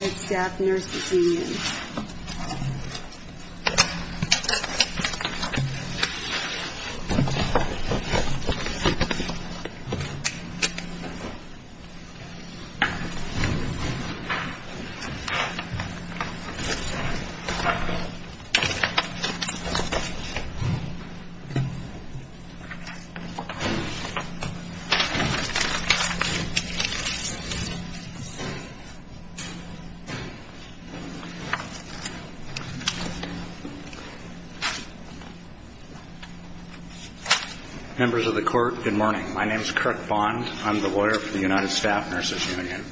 United Staff Nurses Union Good morning. My name is Kirk Bond. I'm the lawyer for the United Staff Nurses Union.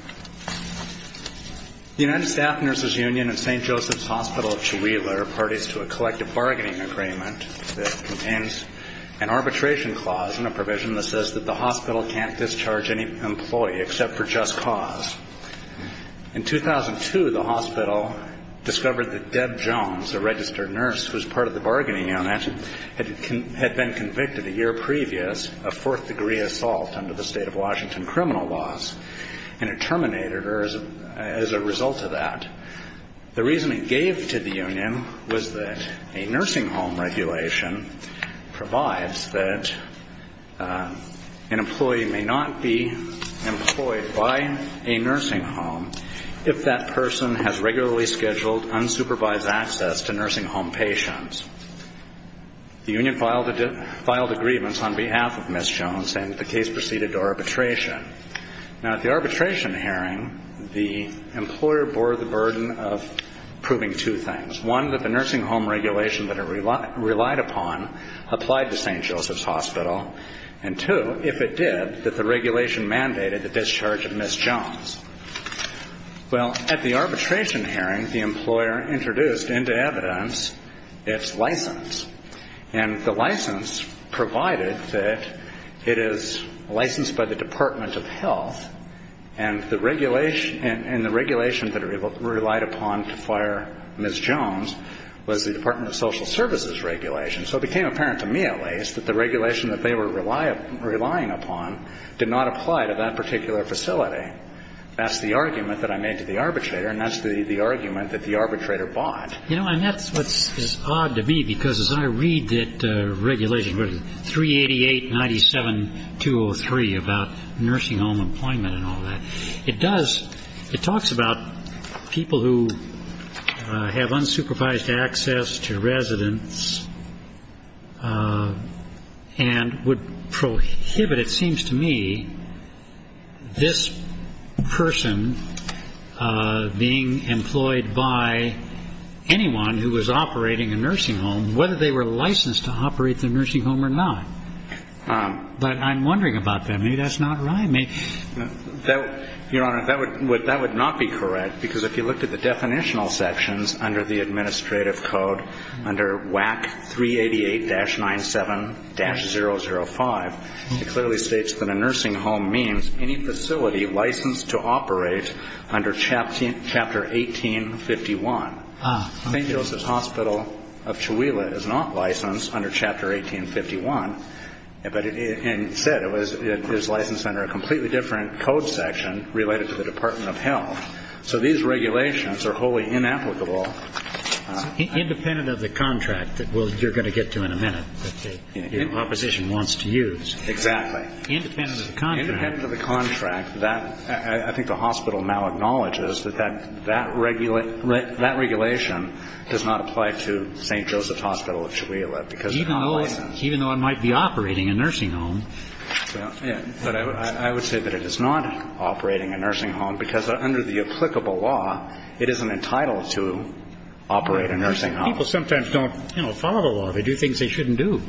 The United Staff Nurses Union and St. Joseph's Hospital of Whewelah are parties to a collective bargaining agreement that contains an arbitration clause and a provision that says that the hospital discovered that Deb Jones, a registered nurse who was part of the bargaining unit, had been convicted a year previous of fourth-degree assault under the state of Washington criminal laws, and it terminated her as a result of that. The reason it gave to the union was that a nursing home regulation provides that an employee may not be employed by a nursing home if that person has regularly scheduled unsupervised access to nursing home patients. The union filed a grievance on behalf of Ms. Jones, and the case proceeded to arbitration. Now, at the arbitration hearing, the employer bore the burden of proving two things, one, that the nursing home regulation that it relied upon applied to St. Joseph's Hospital, and, two, if it did, that the regulation mandated the discharge of Ms. Jones. Well, at the arbitration hearing, the employer introduced into evidence its license, and the license provided that it is licensed by the Department of Health, and the regulation that it relied upon to fire Ms. Jones was the Department of Social Services regulation. So it became clear that the regulation that it relied upon did not apply to that particular facility. That's the argument that I made to the arbitrator, and that's the argument that the arbitrator bought. You know, and that's what's odd to me, because as I read that regulation, 388-97203, about nursing home employment and all that, it does, it talks about people who have unsupervised access to residents and would prohibit, it seems to me, this person being employed by anyone who was operating a nursing home, whether they were licensed to operate the nursing home or not. But I'm wondering about that. Maybe that's not right. Your Honor, that would not be correct, because if you looked at the definitional sections under the administrative code, under WAC 388-97-005, it clearly states that a nursing home means any facility licensed to operate under Chapter 1851. St. Joseph's Hospital of Cholula is not licensed under Chapter 1851, but it said it was licensed under a completely different code section related to the Department of Health. So these regulations are wholly inapplicable. Independent of the contract that you're going to get to in a minute, that the opposition wants to use. Exactly. Independent of the contract. Independent of the contract, I think the hospital now acknowledges that that regulation does not apply to St. Joseph's Hospital of Cholula, because it's not licensed. Even though it might be operating a nursing home. I would say that it is not operating a nursing home, because under the applicable law, it isn't entitled to operate a nursing home. People sometimes don't follow the law. They do things they shouldn't do.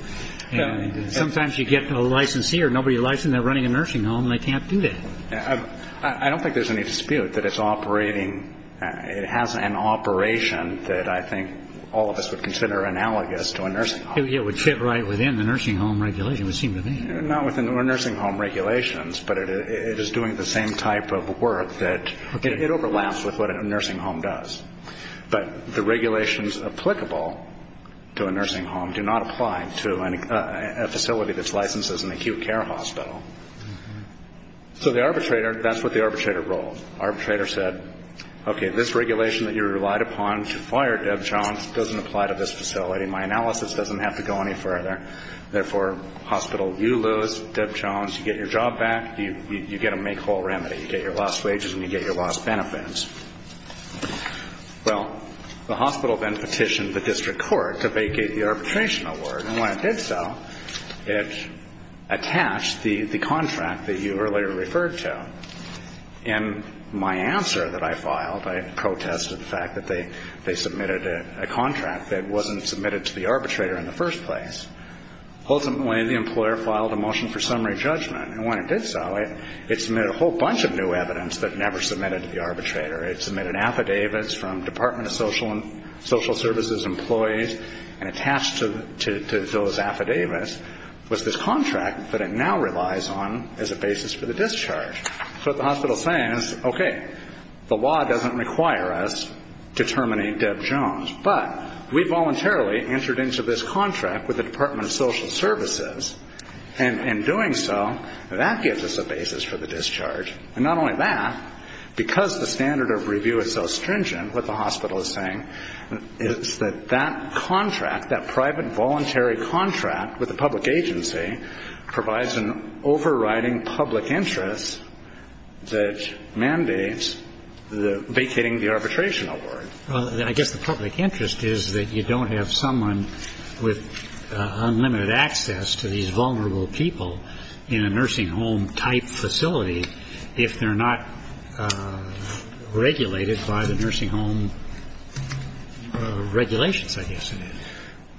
Sometimes you get a licensee or nobody licensed, they're running a nursing home, and they can't do that. I don't think there's any dispute that it's operating, it has an operation that I think all of us would consider analogous to a nursing home. Not within the nursing home regulations, but it is doing the same type of work that it overlaps with what a nursing home does. But the regulations applicable to a nursing home do not apply to a facility that's licensed as an acute care hospital. So the arbitrator, that's what the arbitrator ruled. Arbitrator said, okay, this regulation that you relied upon to fire Deb Jones doesn't apply to this facility. My job back, you get a make whole remedy. You get your lost wages and you get your lost benefits. Well, the hospital then petitioned the district court to vacate the arbitration award, and when it did so, it attached the contract that you earlier referred to. In my answer that I filed, I protested the fact that they submitted a contract that wasn't submitted to the arbitrator in the first place. Ultimately, the employer filed a motion for summary judgment, and when it did so, it submitted a whole bunch of new evidence that never submitted to the arbitrator. It submitted affidavits from Department of Social Services employees, and attached to those affidavits was this contract that it now relies on as a basis for the discharge. So what the hospital is saying is, okay, the law doesn't require us to terminate Deb Jones, but we voluntarily entered into this contract with the Department of Social Services, and in doing so, that gives us a basis for the discharge. And not only that, because the standard of review is so stringent, what the hospital is saying is that that contract, that private voluntary contract with the public agency, provides an overriding public interest that mandates the vacating the arbitration award. Well, I guess the public interest is that you don't have someone with unlimited access to these vulnerable people in a nursing home-type facility if they're not regulated by the nursing home regulations, I guess it is.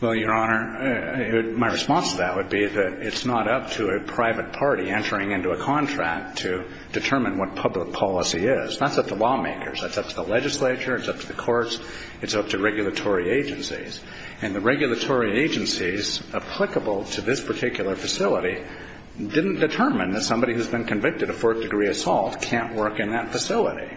Well, Your Honor, my response to that would be that it's not up to a private party entering into a contract to determine what public policy is. That's up to lawmakers. That's up to the legislature. It's up to the courts. It's up to regulatory agencies. And the regulatory agencies applicable to this particular facility didn't determine that somebody who's been convicted of fourth-degree assault can't work in that facility.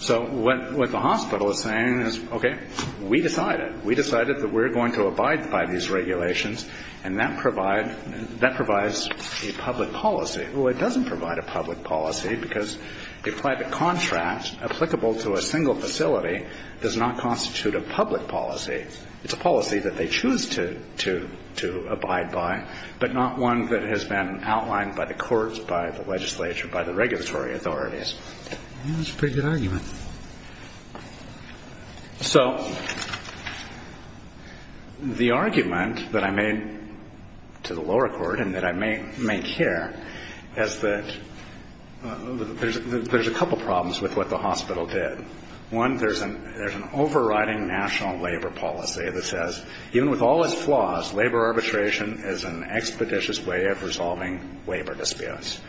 So what the hospital is saying is, okay, we decided. We decided that we're going to abide by these regulations, and that provides a public policy. Well, it doesn't provide a public policy, because a private contract applicable to a single facility does not constitute a public policy. It's a policy that they choose to abide by, but not one that has been outlined by the courts, by the legislature, by the regulatory authorities. That's a pretty good argument. So the argument that I made to the lower court and that I make here is that there's a couple problems with what the hospital did. One, there's an overriding national labor policy that says, even with all its flaws, labor arbitration is an expeditious way of resolving labor disputes.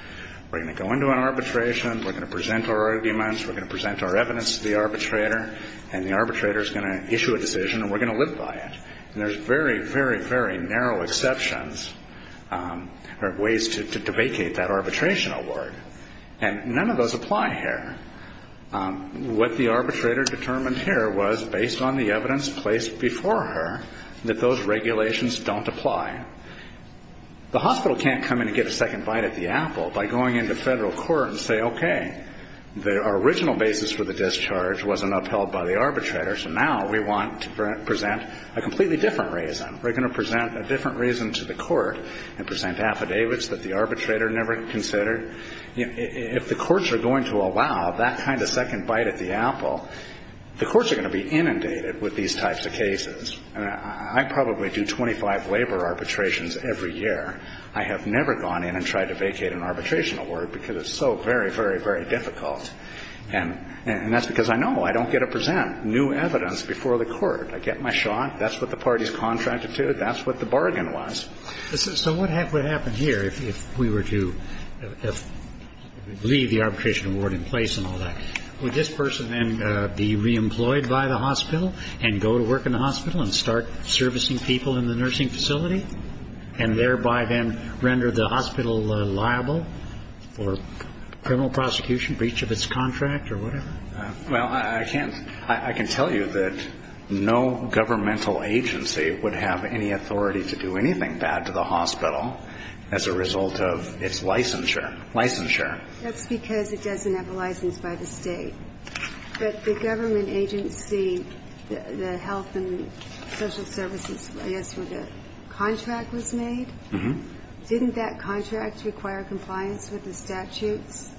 We're going to go into an arbitration. We're going to present our arguments. We're going to present our evidence to the arbitrator, and the arbitrator is going to issue a decision, and we're going to live by it. And there's very, very, very narrow exceptions or ways to vacate that arbitration award, and none of those apply here. What the arbitrator determined here was, based on the evidence placed before her, that those regulations don't apply. The hospital can't come in and get a second bite at the apple by going into federal court and say, okay, our original basis for the discharge wasn't upheld by the arbitrator, so now we want to present a completely different reason. We're going to present a different reason to the court and present affidavits that the arbitrator never considered. If the courts are going to allow that kind of second bite at the apple, the courts are going to be inundated with these types of cases. I probably do 25 labor arbitrations every year. I have never gone in and tried to vacate an arbitration award because it's so very, very, very difficult. And that's because I know I don't get to present new evidence before the court. I get my shot. That's what the parties contracted to. That's what the bargain was. So what would happen here if we were to leave the arbitration award in place and all that? Would this person then be reemployed by the hospital and go to work in the hospital and start servicing people in the nursing facility and thereby then render the hospital liable for criminal prosecution, breach of its contract or whatever? Well, I can tell you that no governmental agency would have any authority to do anything bad to the hospital as a result of its licensure. Licensure. That's because it doesn't have a license by the State. But the government agency, the health and social services, I guess where the contract was made, didn't that contract require compliance with the statutes?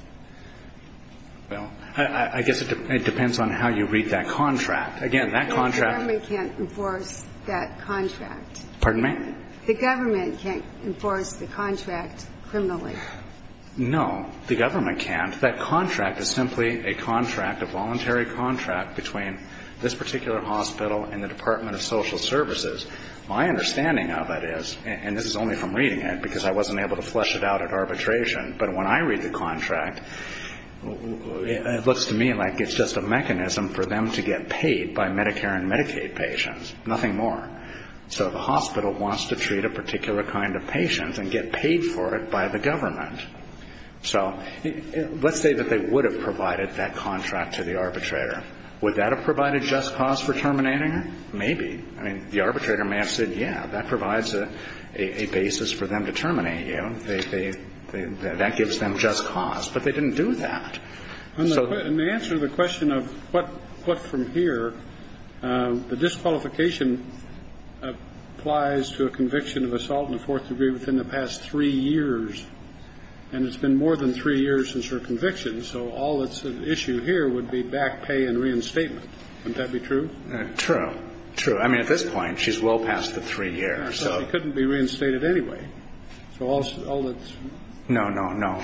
Well, I guess it depends on how you read that contract. Again, that contract. The government can't enforce that contract. Pardon me? The government can't enforce the contract criminally. No, the government can't. That contract is simply a contract, a voluntary contract between this particular hospital and the Department of Social Services. My understanding of it is, and this is only from reading it because I wasn't able to flesh it out at arbitration, but when I read the contract, it looks to me like it's just a mechanism for them to get paid by Medicare and Medicaid patients, nothing more. So the hospital wants to treat a particular kind of patient and get paid for it by the government. So let's say that they would have provided that contract to the arbitrator. Would that have provided just cause for terminating her? Maybe. I mean, the arbitrator may have said, yeah, that provides a basis for them to terminate you. That gives them just cause. But they didn't do that. In the answer to the question of what from here, the disqualification applies to a conviction of assault in the fourth degree within the past three years. And it's been more than three years since her conviction. So all that's at issue here would be back pay and reinstatement. Wouldn't that be true? True. True. I mean, at this point, she's well past the three years. So she couldn't be reinstated anyway. So all that's no, no, no.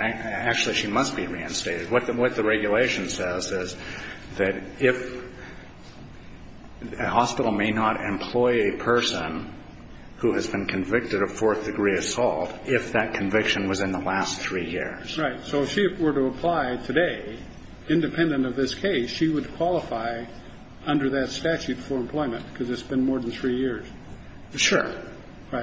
Actually, she must be reinstated. What the regulation says is that if a hospital may not employ a person who has been convicted of fourth degree assault, if that conviction was in the last three years. Right. So if she were to apply today, independent of this case, she would qualify under that statute for employment because it's been more than three years. Sure.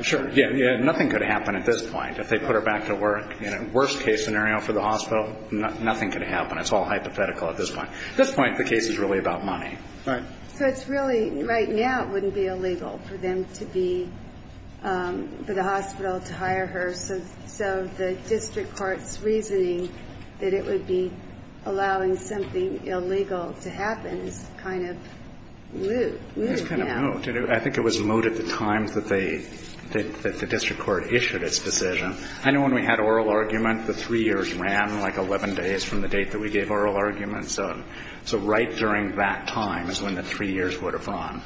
Sure. Yeah. Nothing could happen at this point. If they put her back to work, worst case scenario for the hospital, nothing could happen. It's all hypothetical at this point. At this point, the case is really about money. Right. So it's really, right now, it wouldn't be illegal for them to be, for the hospital to hire her. So the district court's reasoning that it would be allowing something illegal to happen is kind of lewd. It's kind of lewd. I think it was lewd at the time that the district court issued its decision. I know when we had oral argument, the three years ran like 11 days from the date that we gave oral argument. So right during that time is when the three years would have run.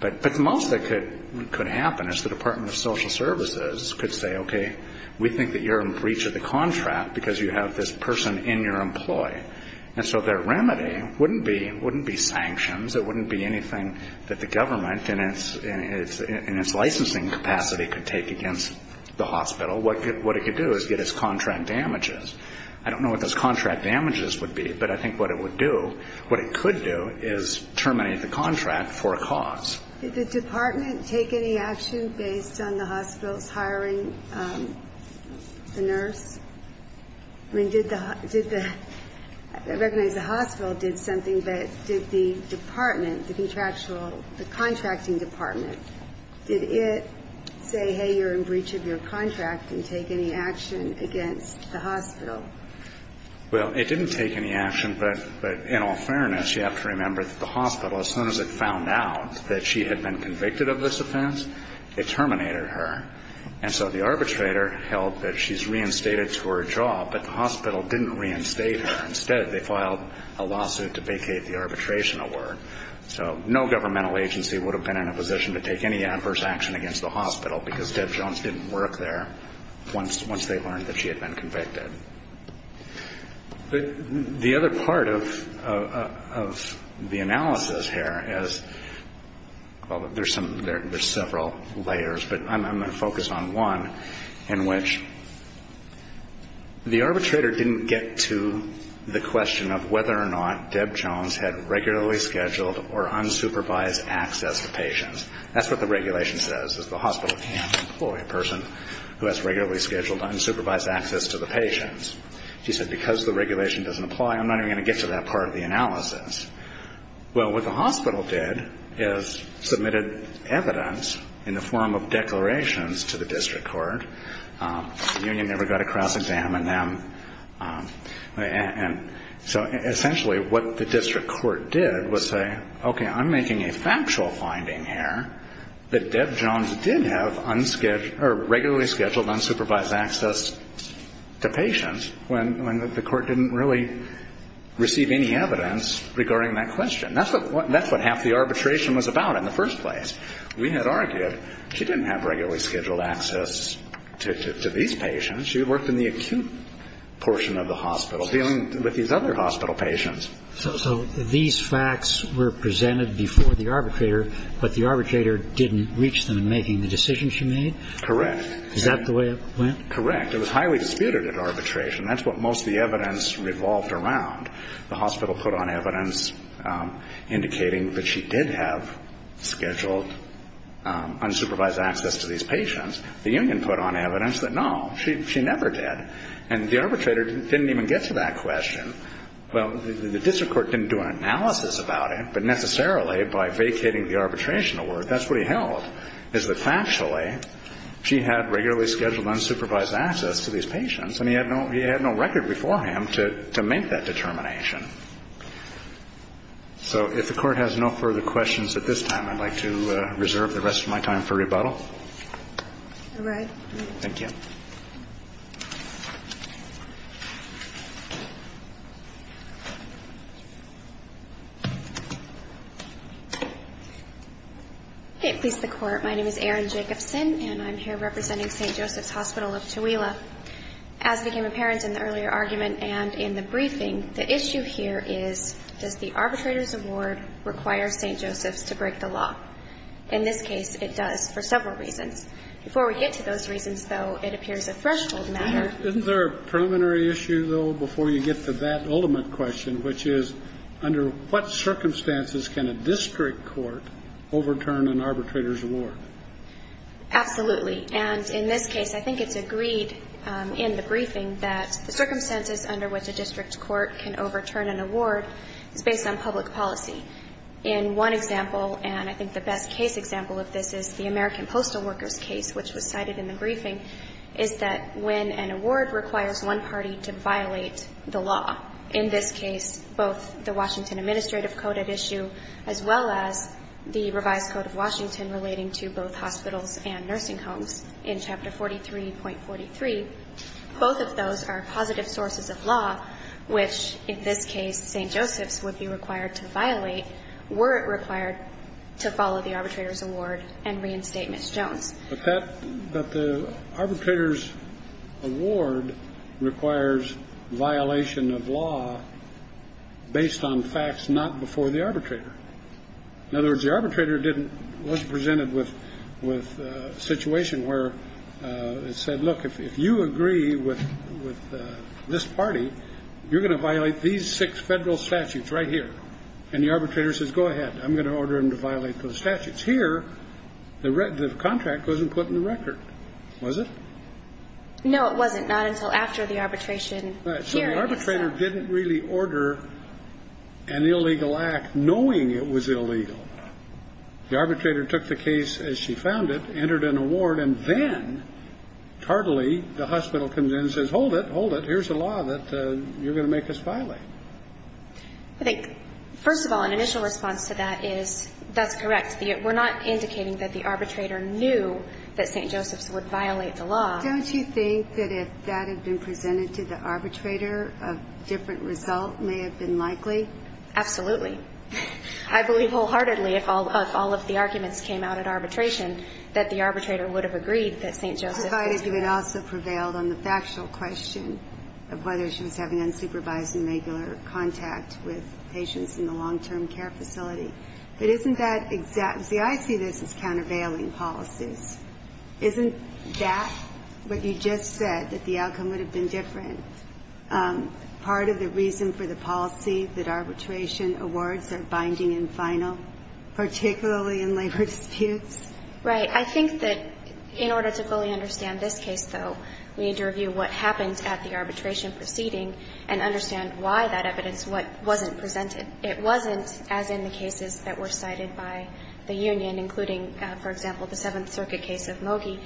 But the most that could happen is the Department of Social Services could say, okay, we think that you're in breach of the contract because you have this person in your employ. And so their remedy wouldn't be sanctions, it wouldn't be anything that the government in its licensing capacity could take against the hospital. What it could do is get its contract damages. I don't know what those contract damages would be, but I think what it would do, what it could do is terminate the contract for a cause. Did the department take any action based on the hospital's hiring the nurse? I mean, did the, I recognize the hospital did something, but did the department, the contractual, the contracting department, did it say, hey, you're in breach of your contract and take any action against the hospital? Well, it didn't take any action, but in all fairness, you have to remember that the hospital, as soon as it found out that she had been convicted of this offense, it terminated her. And so the arbitrator held that she's reinstated to her job, but the hospital didn't reinstate her. Instead, they filed a lawsuit to vacate the arbitration award. So no governmental agency would have been in a position to take any adverse action against the hospital because Deb Jones didn't work there once they learned that she had been convicted. The other part of the analysis here is, well, there's several layers, but I'm going to focus on one in which the arbitrator didn't get to the question of whether or not Deb Jones had regularly scheduled or unsupervised access to patients. That's what the regulation says, is the hospital can't employ a person who has regularly scheduled unsupervised access to the patients. She said, because the regulation doesn't apply, I'm not even going to get to that part of the analysis. Well, what the hospital did is submitted evidence in the form of declarations to the district court. The union never got to cross-examine them. So essentially what the district court did was say, okay, I'm making a factual finding here that Deb Jones did have regularly scheduled unsupervised access to patients when the court didn't really receive any evidence regarding that question. That's what half the arbitration was about in the first place. We had argued she didn't have regularly scheduled access to these patients. She worked in the acute portion of the hospital dealing with these other hospital patients. So these facts were presented before the arbitrator, but the arbitrator didn't reach them in making the decision she made? Correct. Is that the way it went? Correct. It was highly disputed at arbitration. That's what most of the evidence revolved around. The hospital put on evidence indicating that she did have scheduled unsupervised access to these patients. The union put on evidence that no, she never did. And the arbitrator didn't even get to that question. Well, the district court didn't do an analysis about it, but necessarily by vacating the arbitration award, that's what he held, is that factually she had regularly scheduled unsupervised access to these patients, and he had no record before him to make that determination. So if the court has no further questions at this time, I'd like to reserve the rest of my time for rebuttal. All right. Thank you. Okay. Please, the Court. My name is Erin Jacobson, and I'm here representing St. Joseph's Hospital of Tooele. As became apparent in the earlier argument and in the briefing, the issue here is, does the arbitrator's award require St. Joseph's to break the law? In this case, it does, for several reasons. Before we get to those reasons, though, it appears a threshold matter. Isn't there a preliminary issue, though, before you get to that ultimate question, which is, under what circumstances can a district court overturn an arbitrator's award? Absolutely. And in this case, I think it's agreed in the briefing that the circumstances under which a district court can overturn an award is based on public policy. In one example, and I think the best case example of this is the American Postal Workers case, which was cited in the briefing, is that when an award requires one party to violate the law, in this case, both the Washington administrative code at issue, as well as the revised code of Washington relating to both hospitals and nursing homes in Chapter 43.43, both of those are positive sources of law, which in this case, St. Joseph's would be required to violate were it required to follow the arbitrator's award and reinstate Ms. Jones. But that the arbitrator's award requires violation of law based on facts not before the arbitrator. In other words, the arbitrator didn't, was presented with a situation where it said, look, if you agree with this party, you're going to violate these six federal statutes right here. And the arbitrator says, go ahead. I'm going to order him to violate those statutes. Here, the contract wasn't put in the record, was it? No, it wasn't. Not until after the arbitration hearing. So the arbitrator didn't really order an illegal act knowing it was illegal. The arbitrator took the case as she found it, entered an award, and then, tardily, the hospital comes in and says, hold it, hold it. Here's a law that you're going to make us violate. I think, first of all, an initial response to that is that's correct. We're not indicating that the arbitrator knew that St. Joseph's would violate the law. Don't you think that if that had been presented to the arbitrator, a different result may have been likely? Absolutely. I believe wholeheartedly, if all of the arguments came out at arbitration, that the arbitrator would have agreed that St. Joseph's would violate the law. I thought you had also prevailed on the factual question of whether she was having unsupervised and regular contact with patients in the long-term care facility. But isn't that exact? See, I see this as countervailing policies. Isn't that what you just said, that the outcome would have been different? Part of the reason for the policy that arbitration awards are binding and final, particularly in labor disputes? Right. I think that in order to fully understand this case, though, we need to review what happened at the arbitration proceeding and understand why that evidence wasn't presented. It wasn't, as in the cases that were cited by the union, including, for example, the Seventh Circuit case of Mogi.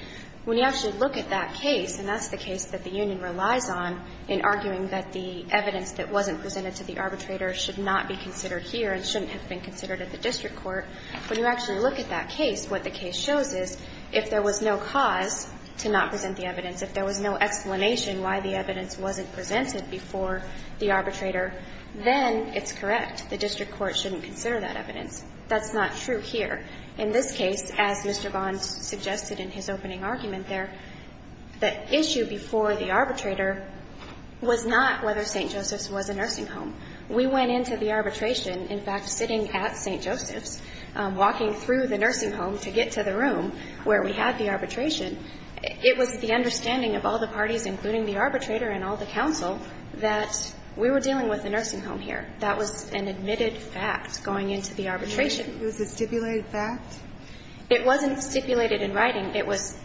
When you actually look at that case, and that's the case that the union relies on in arguing that the evidence that wasn't presented to the arbitrator should not be considered here and shouldn't have been considered at the district court, when you actually look at that case, what the case shows is if there was no cause to not present the evidence, if there was no explanation why the evidence wasn't presented before the arbitrator, then it's correct. The district court shouldn't consider that evidence. That's not true here. In this case, as Mr. Bond suggested in his opening argument there, the issue before the arbitrator was not whether St. Joseph's was a nursing home. We went into the arbitration, in fact, sitting at St. Joseph's, walking through the nursing home to get to the room where we had the arbitration. It was the understanding of all the parties, including the arbitrator and all the counsel, that we were dealing with a nursing home here. That was an admitted fact going into the arbitration. It was a stipulated fact? It wasn't stipulated in writing. It was,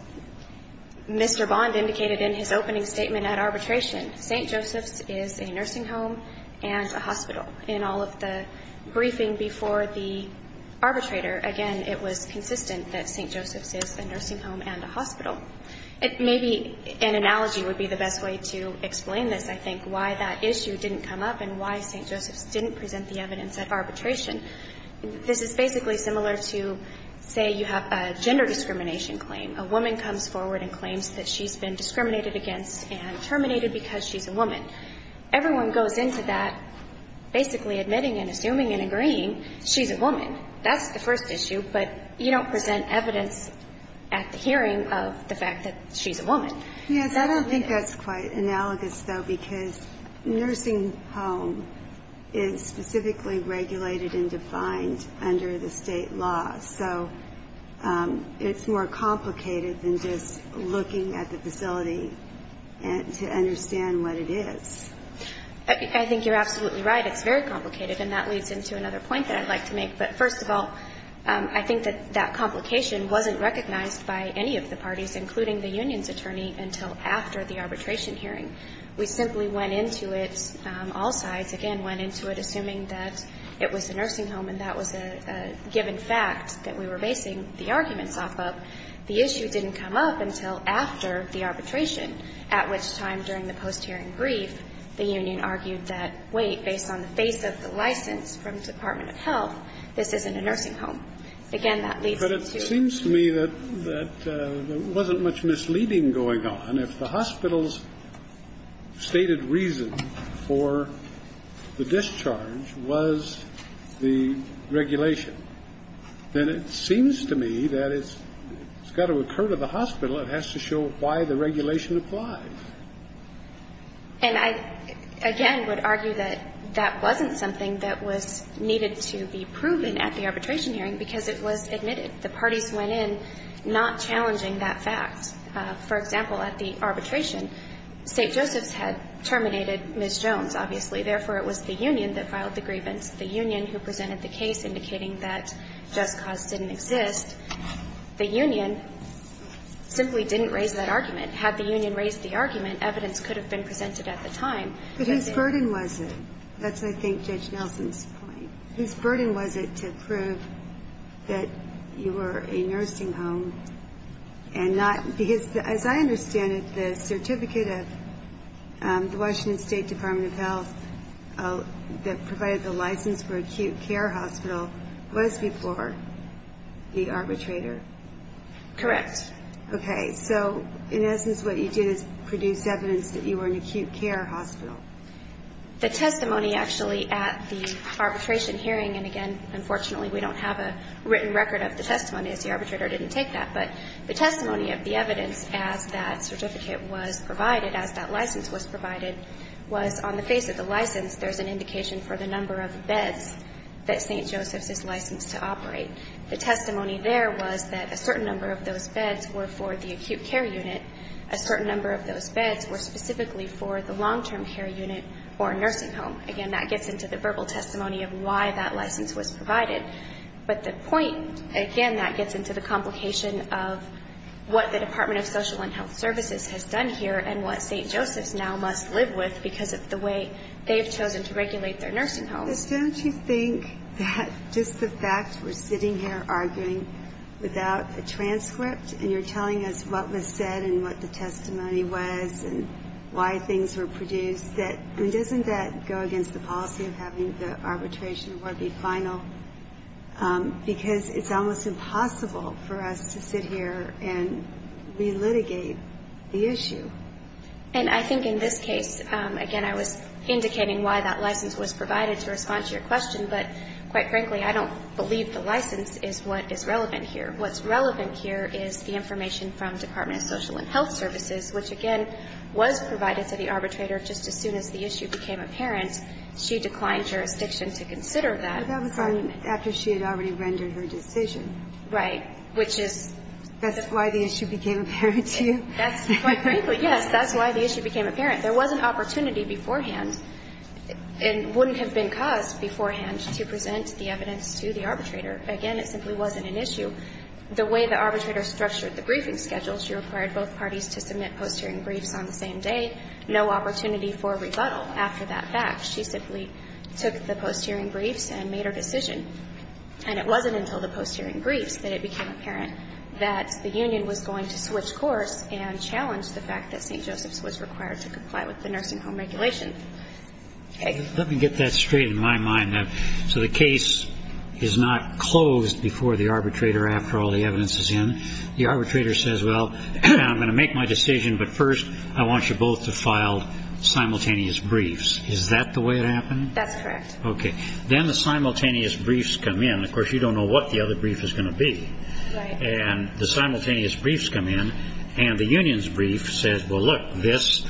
Mr. Bond indicated in his opening statement at arbitration, St. Joseph's is a nursing home and a hospital. In all of the briefing before the arbitrator, again, it was consistent that St. Joseph's is a nursing home and a hospital. Maybe an analogy would be the best way to explain this, I think, why that issue didn't come up and why St. Joseph's didn't present the evidence at arbitration. This is basically similar to, say, you have a gender discrimination claim. A woman comes forward and claims that she's been discriminated against and terminated because she's a woman. Everyone goes into that basically admitting and assuming and agreeing she's a woman. That's the first issue. But you don't present evidence at the hearing of the fact that she's a woman. That doesn't make sense. It's quite analogous, though, because nursing home is specifically regulated and defined under the state law. So it's more complicated than just looking at the facility to understand what it is. I think you're absolutely right. It's very complicated. And that leads into another point that I'd like to make. But first of all, I think that that complication wasn't recognized by any of the parties, including the union's attorney, until after the arbitration hearing. We simply went into it, all sides, again, went into it assuming that it was a nursing home and that was a given fact that we were basing the arguments off of. The issue didn't come up until after the arbitration, at which time during the post-hearing brief, the union argued that, wait, based on the face of the license from the Department of Health, this isn't a nursing home. Again, that leads into the question. But it seems to me that there wasn't much misleading going on. If the hospital's stated reason for the discharge was the regulation, then it seems to me that it's got to occur to the hospital. It has to show why the regulation applies. And I, again, would argue that that wasn't something that was needed to be proven at the arbitration hearing because it was admitted. The parties went in not challenging that fact. For example, at the arbitration, St. Joseph's had terminated Ms. Jones, obviously. Therefore, it was the union that filed the grievance, the union who presented the case indicating that Just Cause didn't exist. The union simply didn't raise that argument. Had the union raised the argument, evidence could have been presented at the time. But whose burden was it? That's, I think, Judge Nelson's point. Whose burden was it to prove that you were a nursing home and not, because as I understand it, the certificate of the Washington State Department of Health that provided the license for acute care hospital was before the arbitrator. Correct. Okay. So, in essence, what you did is produce evidence that you were an acute care hospital. The testimony, actually, at the arbitration hearing, and again, unfortunately, we don't have a written record of the testimony as the arbitrator didn't take that, but the testimony of the evidence as that certificate was provided, as that license was provided, was on the face of the license, there's an indication for the number of beds that St. Joseph's is licensed to operate. The testimony there was that a certain number of those beds were for the acute care unit. A certain number of those beds were specifically for the long-term care unit or nursing home. Again, that gets into the verbal testimony of why that license was provided. But the point, again, that gets into the complication of what the Department of Social and Health Services has done here and what St. Joseph's now must live with because of the way they've chosen to regulate their nursing homes. But don't you think that just the fact we're sitting here arguing without a transcript and you're telling us what was said and what the testimony was and why things were produced, that, I mean, doesn't that go against the policy of having the arbitration award be final because it's almost impossible for us to sit here and re-litigate the issue? And I think in this case, again, I was indicating why that license was provided to respond to your question, but quite frankly, I don't believe the license is what is relevant here. What's relevant here is the information from the Department of Social and Health Services, which, again, was provided to the arbitrator just as soon as the issue became apparent. She declined jurisdiction to consider that. But that was after she had already rendered her decision. Right, which is... That's why the issue became apparent to you? Quite frankly, yes, that's why the issue became apparent. There was an opportunity beforehand and wouldn't have been caused beforehand to present the evidence to the arbitrator. Again, it simply wasn't an issue. The way the arbitrator structured the briefing schedule, she required both parties to submit post-hearing briefs on the same day, no opportunity for rebuttal after that fact. She simply took the post-hearing briefs and made her decision. And it wasn't until the post-hearing briefs that it became apparent that the union was going to switch course and challenge the fact that St. Joseph's was required to comply with the nursing home regulation. Let me get that straight in my mind now. So the case is not closed before the arbitrator after all the evidence is in. The arbitrator says, well, I'm going to make my decision, but first I want you both to file simultaneous briefs. Is that the way it happened? That's correct. Okay. Then the simultaneous briefs come in. Of course, you don't know what the other brief is going to be. And the simultaneous briefs come in. And the union's brief says, well, look, this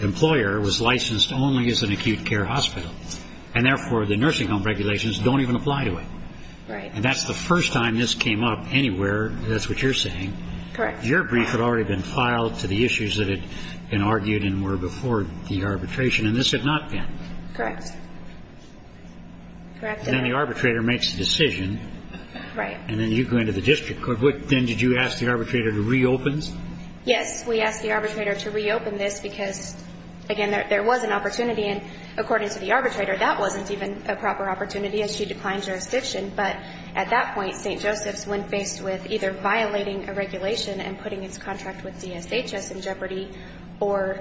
employer was licensed only as an acute care hospital, and therefore the nursing home regulations don't even apply to it. Right. And that's the first time this came up anywhere. That's what you're saying. Correct. Your brief had already been filed to the issues that had been argued and were before the arbitration, and this had not been. Correct. Then the arbitrator makes the decision. Right. And then you go into the district court. Then did you ask the arbitrator to reopen? Yes. We asked the arbitrator to reopen this because, again, there was an opportunity. And according to the arbitrator, that wasn't even a proper opportunity as she declined jurisdiction. But at that point, St. Joseph's, when faced with either violating a regulation and putting its contract with DSHS in jeopardy or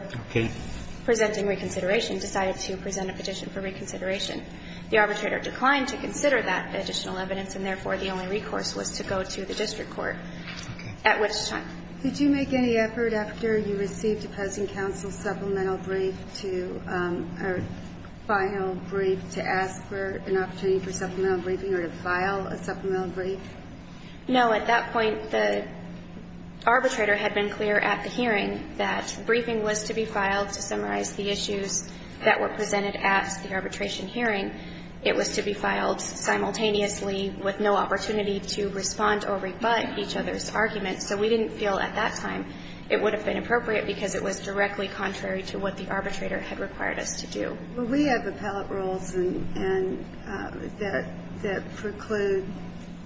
presenting reconsideration, decided to present a petition for reconsideration. The arbitrator declined to consider that additional evidence, and therefore the only recourse was to go to the district court, at which time. Could you make any effort after you received opposing counsel's supplemental brief to or final brief to ask for an opportunity for supplemental briefing or to file a supplemental brief? No. At that point, the arbitrator had been clear at the hearing that briefing was to be filed to summarize the issues that were presented at the arbitration hearing. It was to be filed simultaneously with no opportunity to respond or rebut each other's argument. So we didn't feel at that time it would have been appropriate because it was directly contrary to what the arbitrator had required us to do. Well, we have appellate rules and that preclude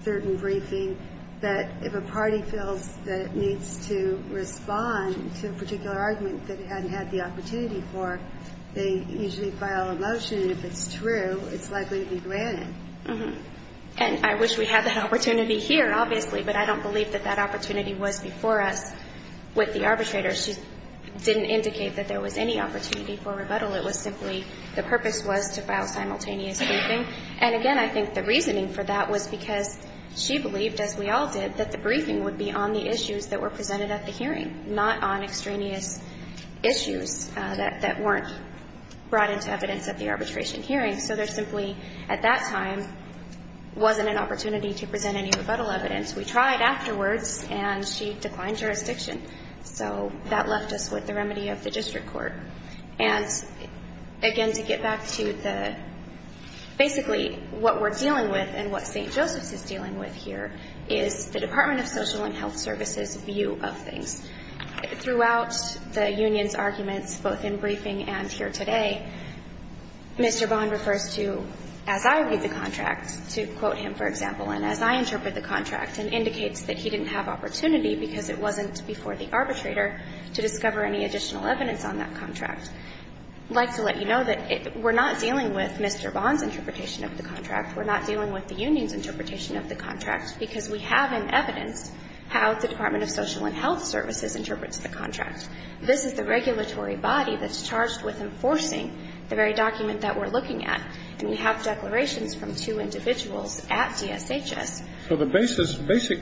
certain briefing that if a party feels that it needs to respond to a particular argument that it hadn't had the opportunity before, they usually file a motion. If it's true, it's likely to be granted. And I wish we had that opportunity here, obviously, but I don't believe that that opportunity was before us with the arbitrator. She didn't indicate that there was any opportunity for rebuttal. It was simply the purpose was to file simultaneous briefing. And again, I think the reasoning for that was because she believed, as we all did, that the briefing would be on the issues that were presented at the hearing, not on extraneous issues that weren't brought into evidence at the arbitration hearing. So there simply, at that time, wasn't an opportunity to present any rebuttal evidence. We tried afterwards and she declined jurisdiction. So that left us with the remedy of the district court. And again, to get back to the, basically, what we're dealing with and what St. Joseph's is dealing with here is the Department of Social and Health Services' view of things. Throughout the union's arguments, both in briefing and here today, Mr. Bond refers to, as I read the contract, to quote him, for example, and as I interpret the contract and indicates that he didn't have opportunity because it wasn't before the arbitrator to discover any additional evidence on that contract. I'd like to let you know that we're not dealing with Mr. Bond's interpretation of the contract. We're not dealing with the union's interpretation of the contract because we haven't evidenced how the Department of Social and Health Services interprets the contract. This is the regulatory body that's charged with enforcing the very document that we're looking at. And we have declarations from two individuals at DSHS. So the basis, basic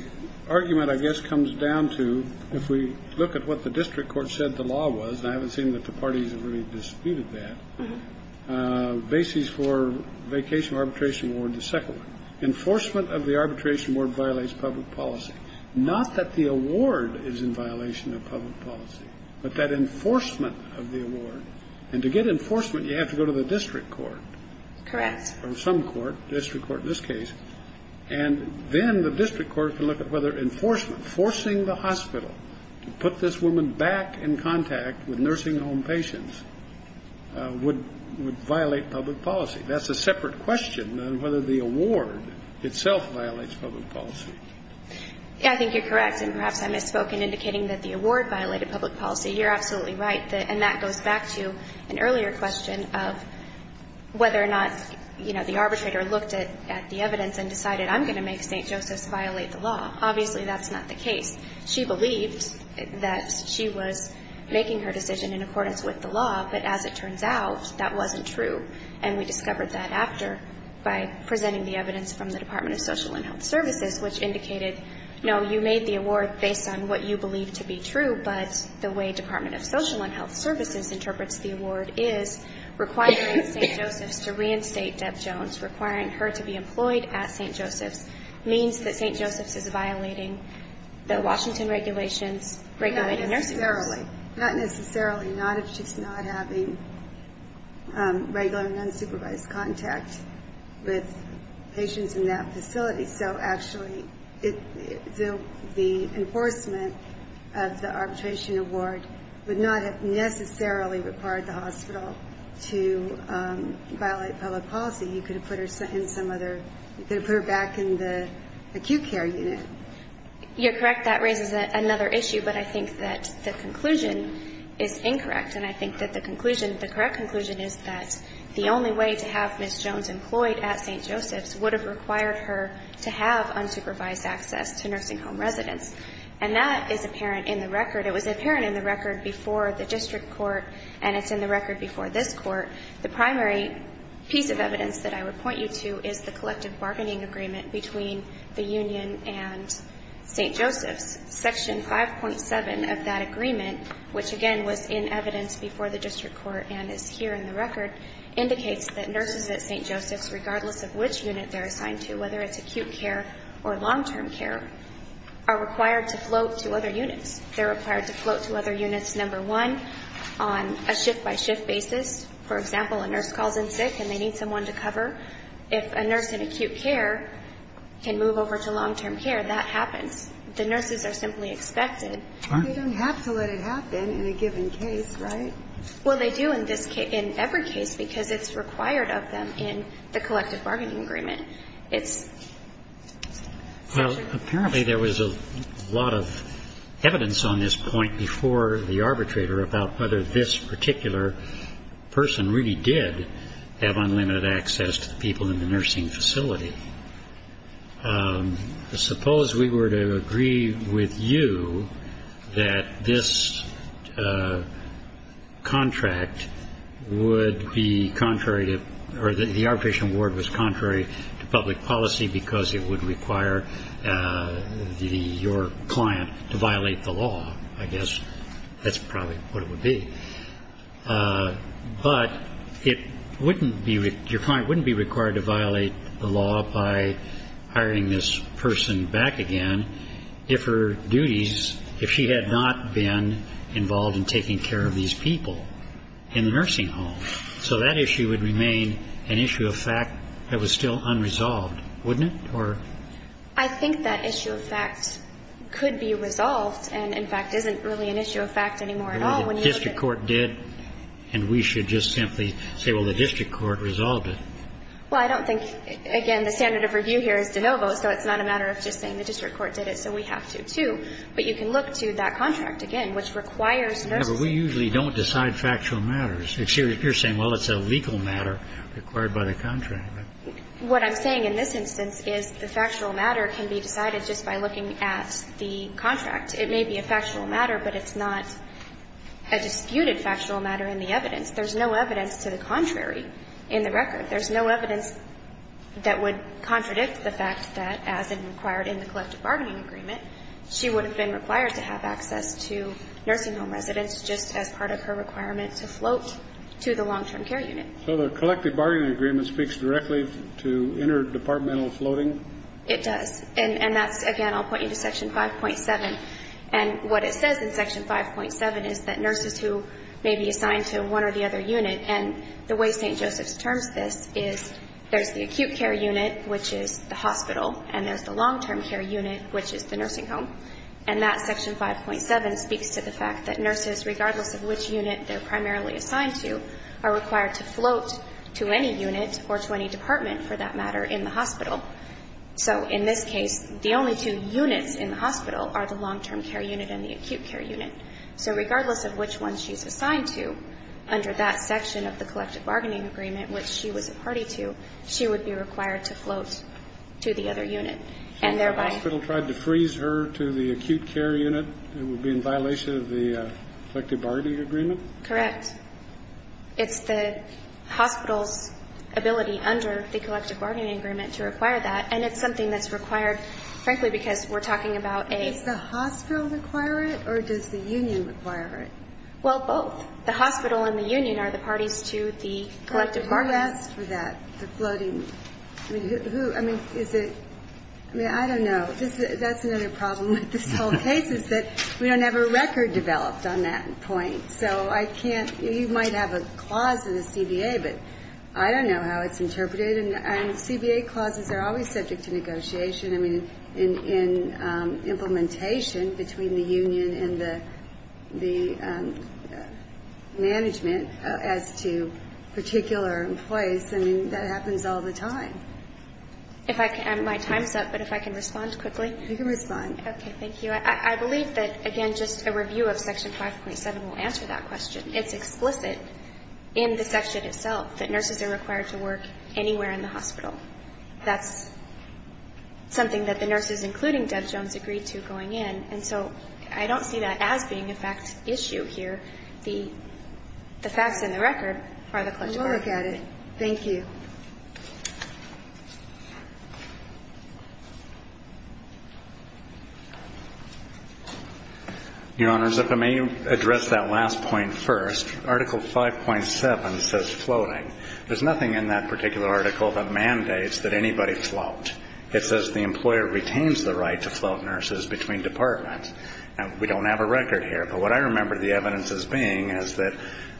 argument, I guess, comes down to, if we look at what the district court said the law was, and I haven't seen that the parties have really disputed that, basis for vacation arbitration award, the second one. The second one is that the enforcement of the arbitration award violates public policy, not that the award is in violation of public policy, but that enforcement of the award. And to get enforcement, you have to go to the district court. Correct. Or some court, district court in this case. And then the district court can look at whether enforcement, forcing the hospital to put this woman back in contact with nursing home patients, would violate public policy. That's a separate question on whether the award itself violates public policy. Yeah, I think you're correct. And perhaps I misspoke in indicating that the award violated public policy. You're absolutely right. And that goes back to an earlier question of whether or not, you know, the arbitrator looked at the evidence and decided, I'm going to make St. Joseph's violate the law. Obviously, that's not the case. She believed that she was making her decision in accordance with the law, but as it turns out, that wasn't true. And we discovered that after, by presenting the evidence from the Department of Social and Health Services, which indicated, no, you made the award based on what you believed to be true, but the way Department of Social and Health Services interprets the award is, requiring St. Joseph's to reinstate Deb Jones, requiring her to be employed at St. Joseph's, means that St. Joseph's is violating the Washington regulations, regulated nursing homes. Not necessarily. Not necessarily. Not if she's not having regular and unsupervised contact with patients in that facility. So actually, the enforcement of the arbitration award would not have necessarily required the hospital to violate public policy. You could have put her in some other, you could have put her back in the acute care unit. You're correct. That raises another issue, but I think that the conclusion is incorrect, and I think that the conclusion, the correct conclusion is that the only way to have Ms. Jones employed at St. Joseph's would have required her to have unsupervised access to nursing home residents. And that is apparent in the record. It was apparent in the record before the district court, and it's in the record before this Court. The primary piece of evidence that I would point you to is the collective bargaining agreement between the union and St. Joseph's. Section 5.7 of that agreement, which, again, was in evidence before the district court and is here in the record, indicates that nurses at St. Joseph's, regardless of which unit they're assigned to, whether it's acute care or long-term care, are required to float to other units. They're required to float to other units, number one, on a shift-by-shift basis. For example, a nurse calls in sick and they need someone to cover. If a nurse in acute care can move over to long-term care, that happens. The nurses are simply expected. They don't have to let it happen in a given case, right? Well, they do in this case, in every case, because it's required of them in the collective bargaining agreement. It's separate. Well, apparently there was a lot of evidence on this point before the arbitrator about whether this particular person really did have unlimited access to the people in the nursing facility. Suppose we were to agree with you that this contract would be contrary to or that the arbitration award was contrary to public policy because it would require your client to violate the law. I guess that's probably what it would be. But it wouldn't be your client wouldn't be required to violate the law by hiring this person back again if her duties, if she had not been involved in taking care of these people in the nursing home. So that issue would remain an issue of fact that was still unresolved, wouldn't it? I think that issue of fact could be resolved and, in fact, isn't really an issue of fact anymore at all when you look at it. Well, the district court did, and we should just simply say, well, the district court resolved it. Well, I don't think, again, the standard of review here is de novo, so it's not a matter of just saying the district court did it, so we have to, too. But you can look to that contract again, which requires nursing. No, but we usually don't decide factual matters. You're saying, well, it's a legal matter required by the contract. What I'm saying in this instance is the factual matter can be decided just by looking at the contract. It may be a factual matter, but it's not a disputed factual matter in the evidence. There's no evidence to the contrary in the record. There's no evidence that would contradict the fact that, as required in the collective bargaining agreement, she would have been required to have access to nursing home residents just as part of her requirement to float to the long-term care unit. So the collective bargaining agreement speaks directly to interdepartmental floating? It does. And that's, again, I'll point you to Section 5.7. And what it says in Section 5.7 is that nurses who may be assigned to one or the other unit, and the way St. Joseph's terms this is there's the acute care unit, which is the hospital, and there's the long-term care unit, which is the nursing home. And that Section 5.7 speaks to the fact that nurses, regardless of which unit they're unit or to any department, for that matter, in the hospital. So in this case, the only two units in the hospital are the long-term care unit and the acute care unit. So regardless of which one she's assigned to, under that section of the collective bargaining agreement, which she was a party to, she would be required to float to the other unit, and thereby ---- If the hospital tried to freeze her to the acute care unit, it would be in violation of the collective bargaining agreement? Correct. It's the hospital's ability under the collective bargaining agreement to require that, and it's something that's required, frankly, because we're talking about a ---- Does the hospital require it, or does the union require it? Well, both. The hospital and the union are the parties to the collective bargaining ---- Who asked for that, the floating? I mean, who? I mean, is it ---- I mean, I don't know. That's another problem with this whole case is that we don't have a record developed on that point. So I can't ---- You might have a clause in the CBA, but I don't know how it's interpreted. And CBA clauses are always subject to negotiation. I mean, in implementation between the union and the management as to particular employees, I mean, that happens all the time. If I can ---- My time's up, but if I can respond quickly. You can respond. Okay. Thank you. I believe that, again, just a review of Section 5.7 will answer that question. It's explicit in the section itself that nurses are required to work anywhere in the hospital. That's something that the nurses, including Deb Jones, agreed to going in. And so I don't see that as being a fact issue here. The facts and the record are the collective bargaining ---- We'll look at it. Thank you. Your Honors, if I may address that last point first. Article 5.7 says floating. There's nothing in that particular article that mandates that anybody float. It says the employer retains the right to float nurses between departments. Now, we don't have a record here. But what I remember the evidence as being is that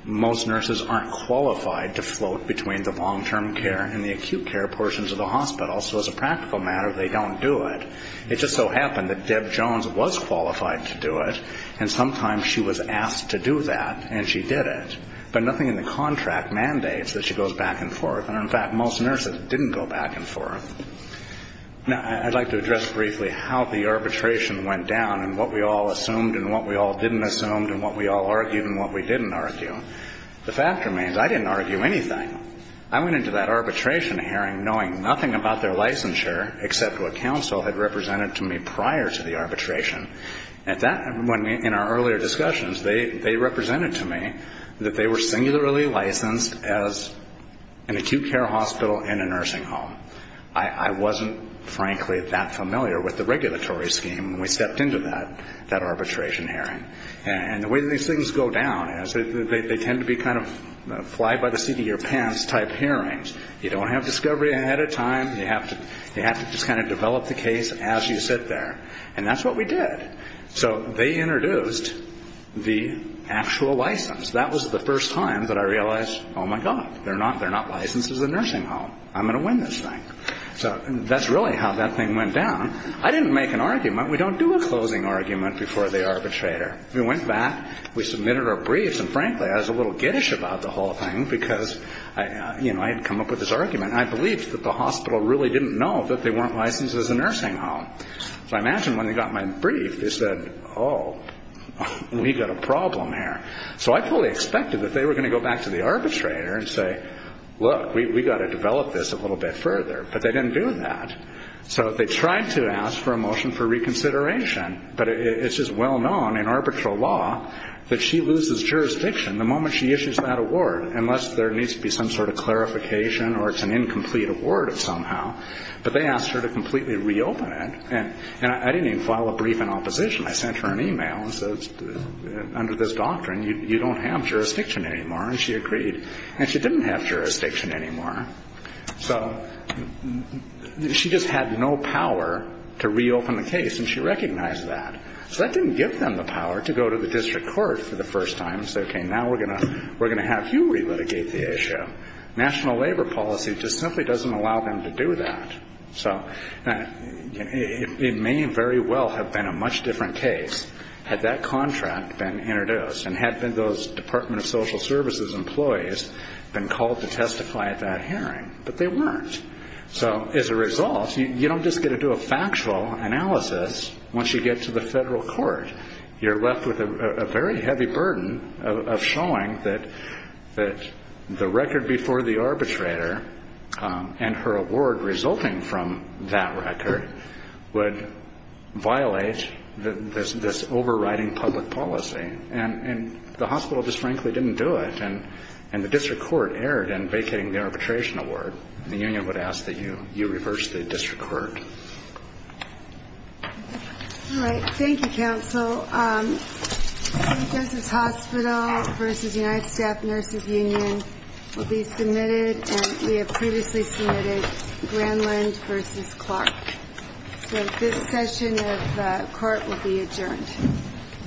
most nurses aren't qualified to float between the long-term care units. And the acute care portions of the hospital. So as a practical matter, they don't do it. It just so happened that Deb Jones was qualified to do it, and sometimes she was asked to do that, and she did it. But nothing in the contract mandates that she goes back and forth. And, in fact, most nurses didn't go back and forth. Now, I'd like to address briefly how the arbitration went down and what we all assumed and what we all didn't assume and what we all argued and what we didn't argue. The fact remains I didn't argue anything. I went into that arbitration hearing knowing nothing about their licensure except what counsel had represented to me prior to the arbitration. And in our earlier discussions, they represented to me that they were singularly licensed as an acute care hospital in a nursing home. I wasn't, frankly, that familiar with the regulatory scheme when we stepped into that arbitration hearing. And the way these things go down is they tend to be kind of fly-by-the-seat-of-your-pants type hearings. You don't have discovery ahead of time. You have to just kind of develop the case as you sit there. And that's what we did. So they introduced the actual license. That was the first time that I realized, oh, my God, they're not licensed as a nursing home. I'm going to win this thing. So that's really how that thing went down. I didn't make an argument. We don't do a closing argument before the arbitrator. We went back. We submitted our briefs. And, frankly, I was a little giddish about the whole thing because I had come up with this argument. I believed that the hospital really didn't know that they weren't licensed as a nursing home. So I imagine when they got my brief, they said, oh, we've got a problem here. So I fully expected that they were going to go back to the arbitrator and say, look, we've got to develop this a little bit further. But they didn't do that. So they tried to ask for a motion for reconsideration, but it's just well known in arbitral law that she loses jurisdiction the moment she issues that award, unless there needs to be some sort of clarification or it's an incomplete award of somehow. But they asked her to completely reopen it. And I didn't even file a brief in opposition. I sent her an e-mail and said, under this doctrine, you don't have jurisdiction anymore. And she agreed. And she didn't have jurisdiction anymore. So she just had no power to reopen the case, and she recognized that. So that didn't give them the power to go to the district court for the first time and say, okay, now we're going to have you relitigate the issue. National labor policy just simply doesn't allow them to do that. So it may very well have been a much different case had that contract been introduced and had those Department of Social Services employees been called to testify at that hearing, but they weren't. So as a result, you don't just get to do a factual analysis once you get to the federal court. You're left with a very heavy burden of showing that the record before the arbitrator and her award resulting from that record would violate this overriding public policy. And the hospital just frankly didn't do it. And the district court erred in vacating the arbitration award. The union would ask that you reverse the district court. All right. Thank you, counsel. State Justice Hospital v. United Staff Nurses Union will be submitted. And we have previously submitted Grandland v. Clark. So this session of court will be adjourned.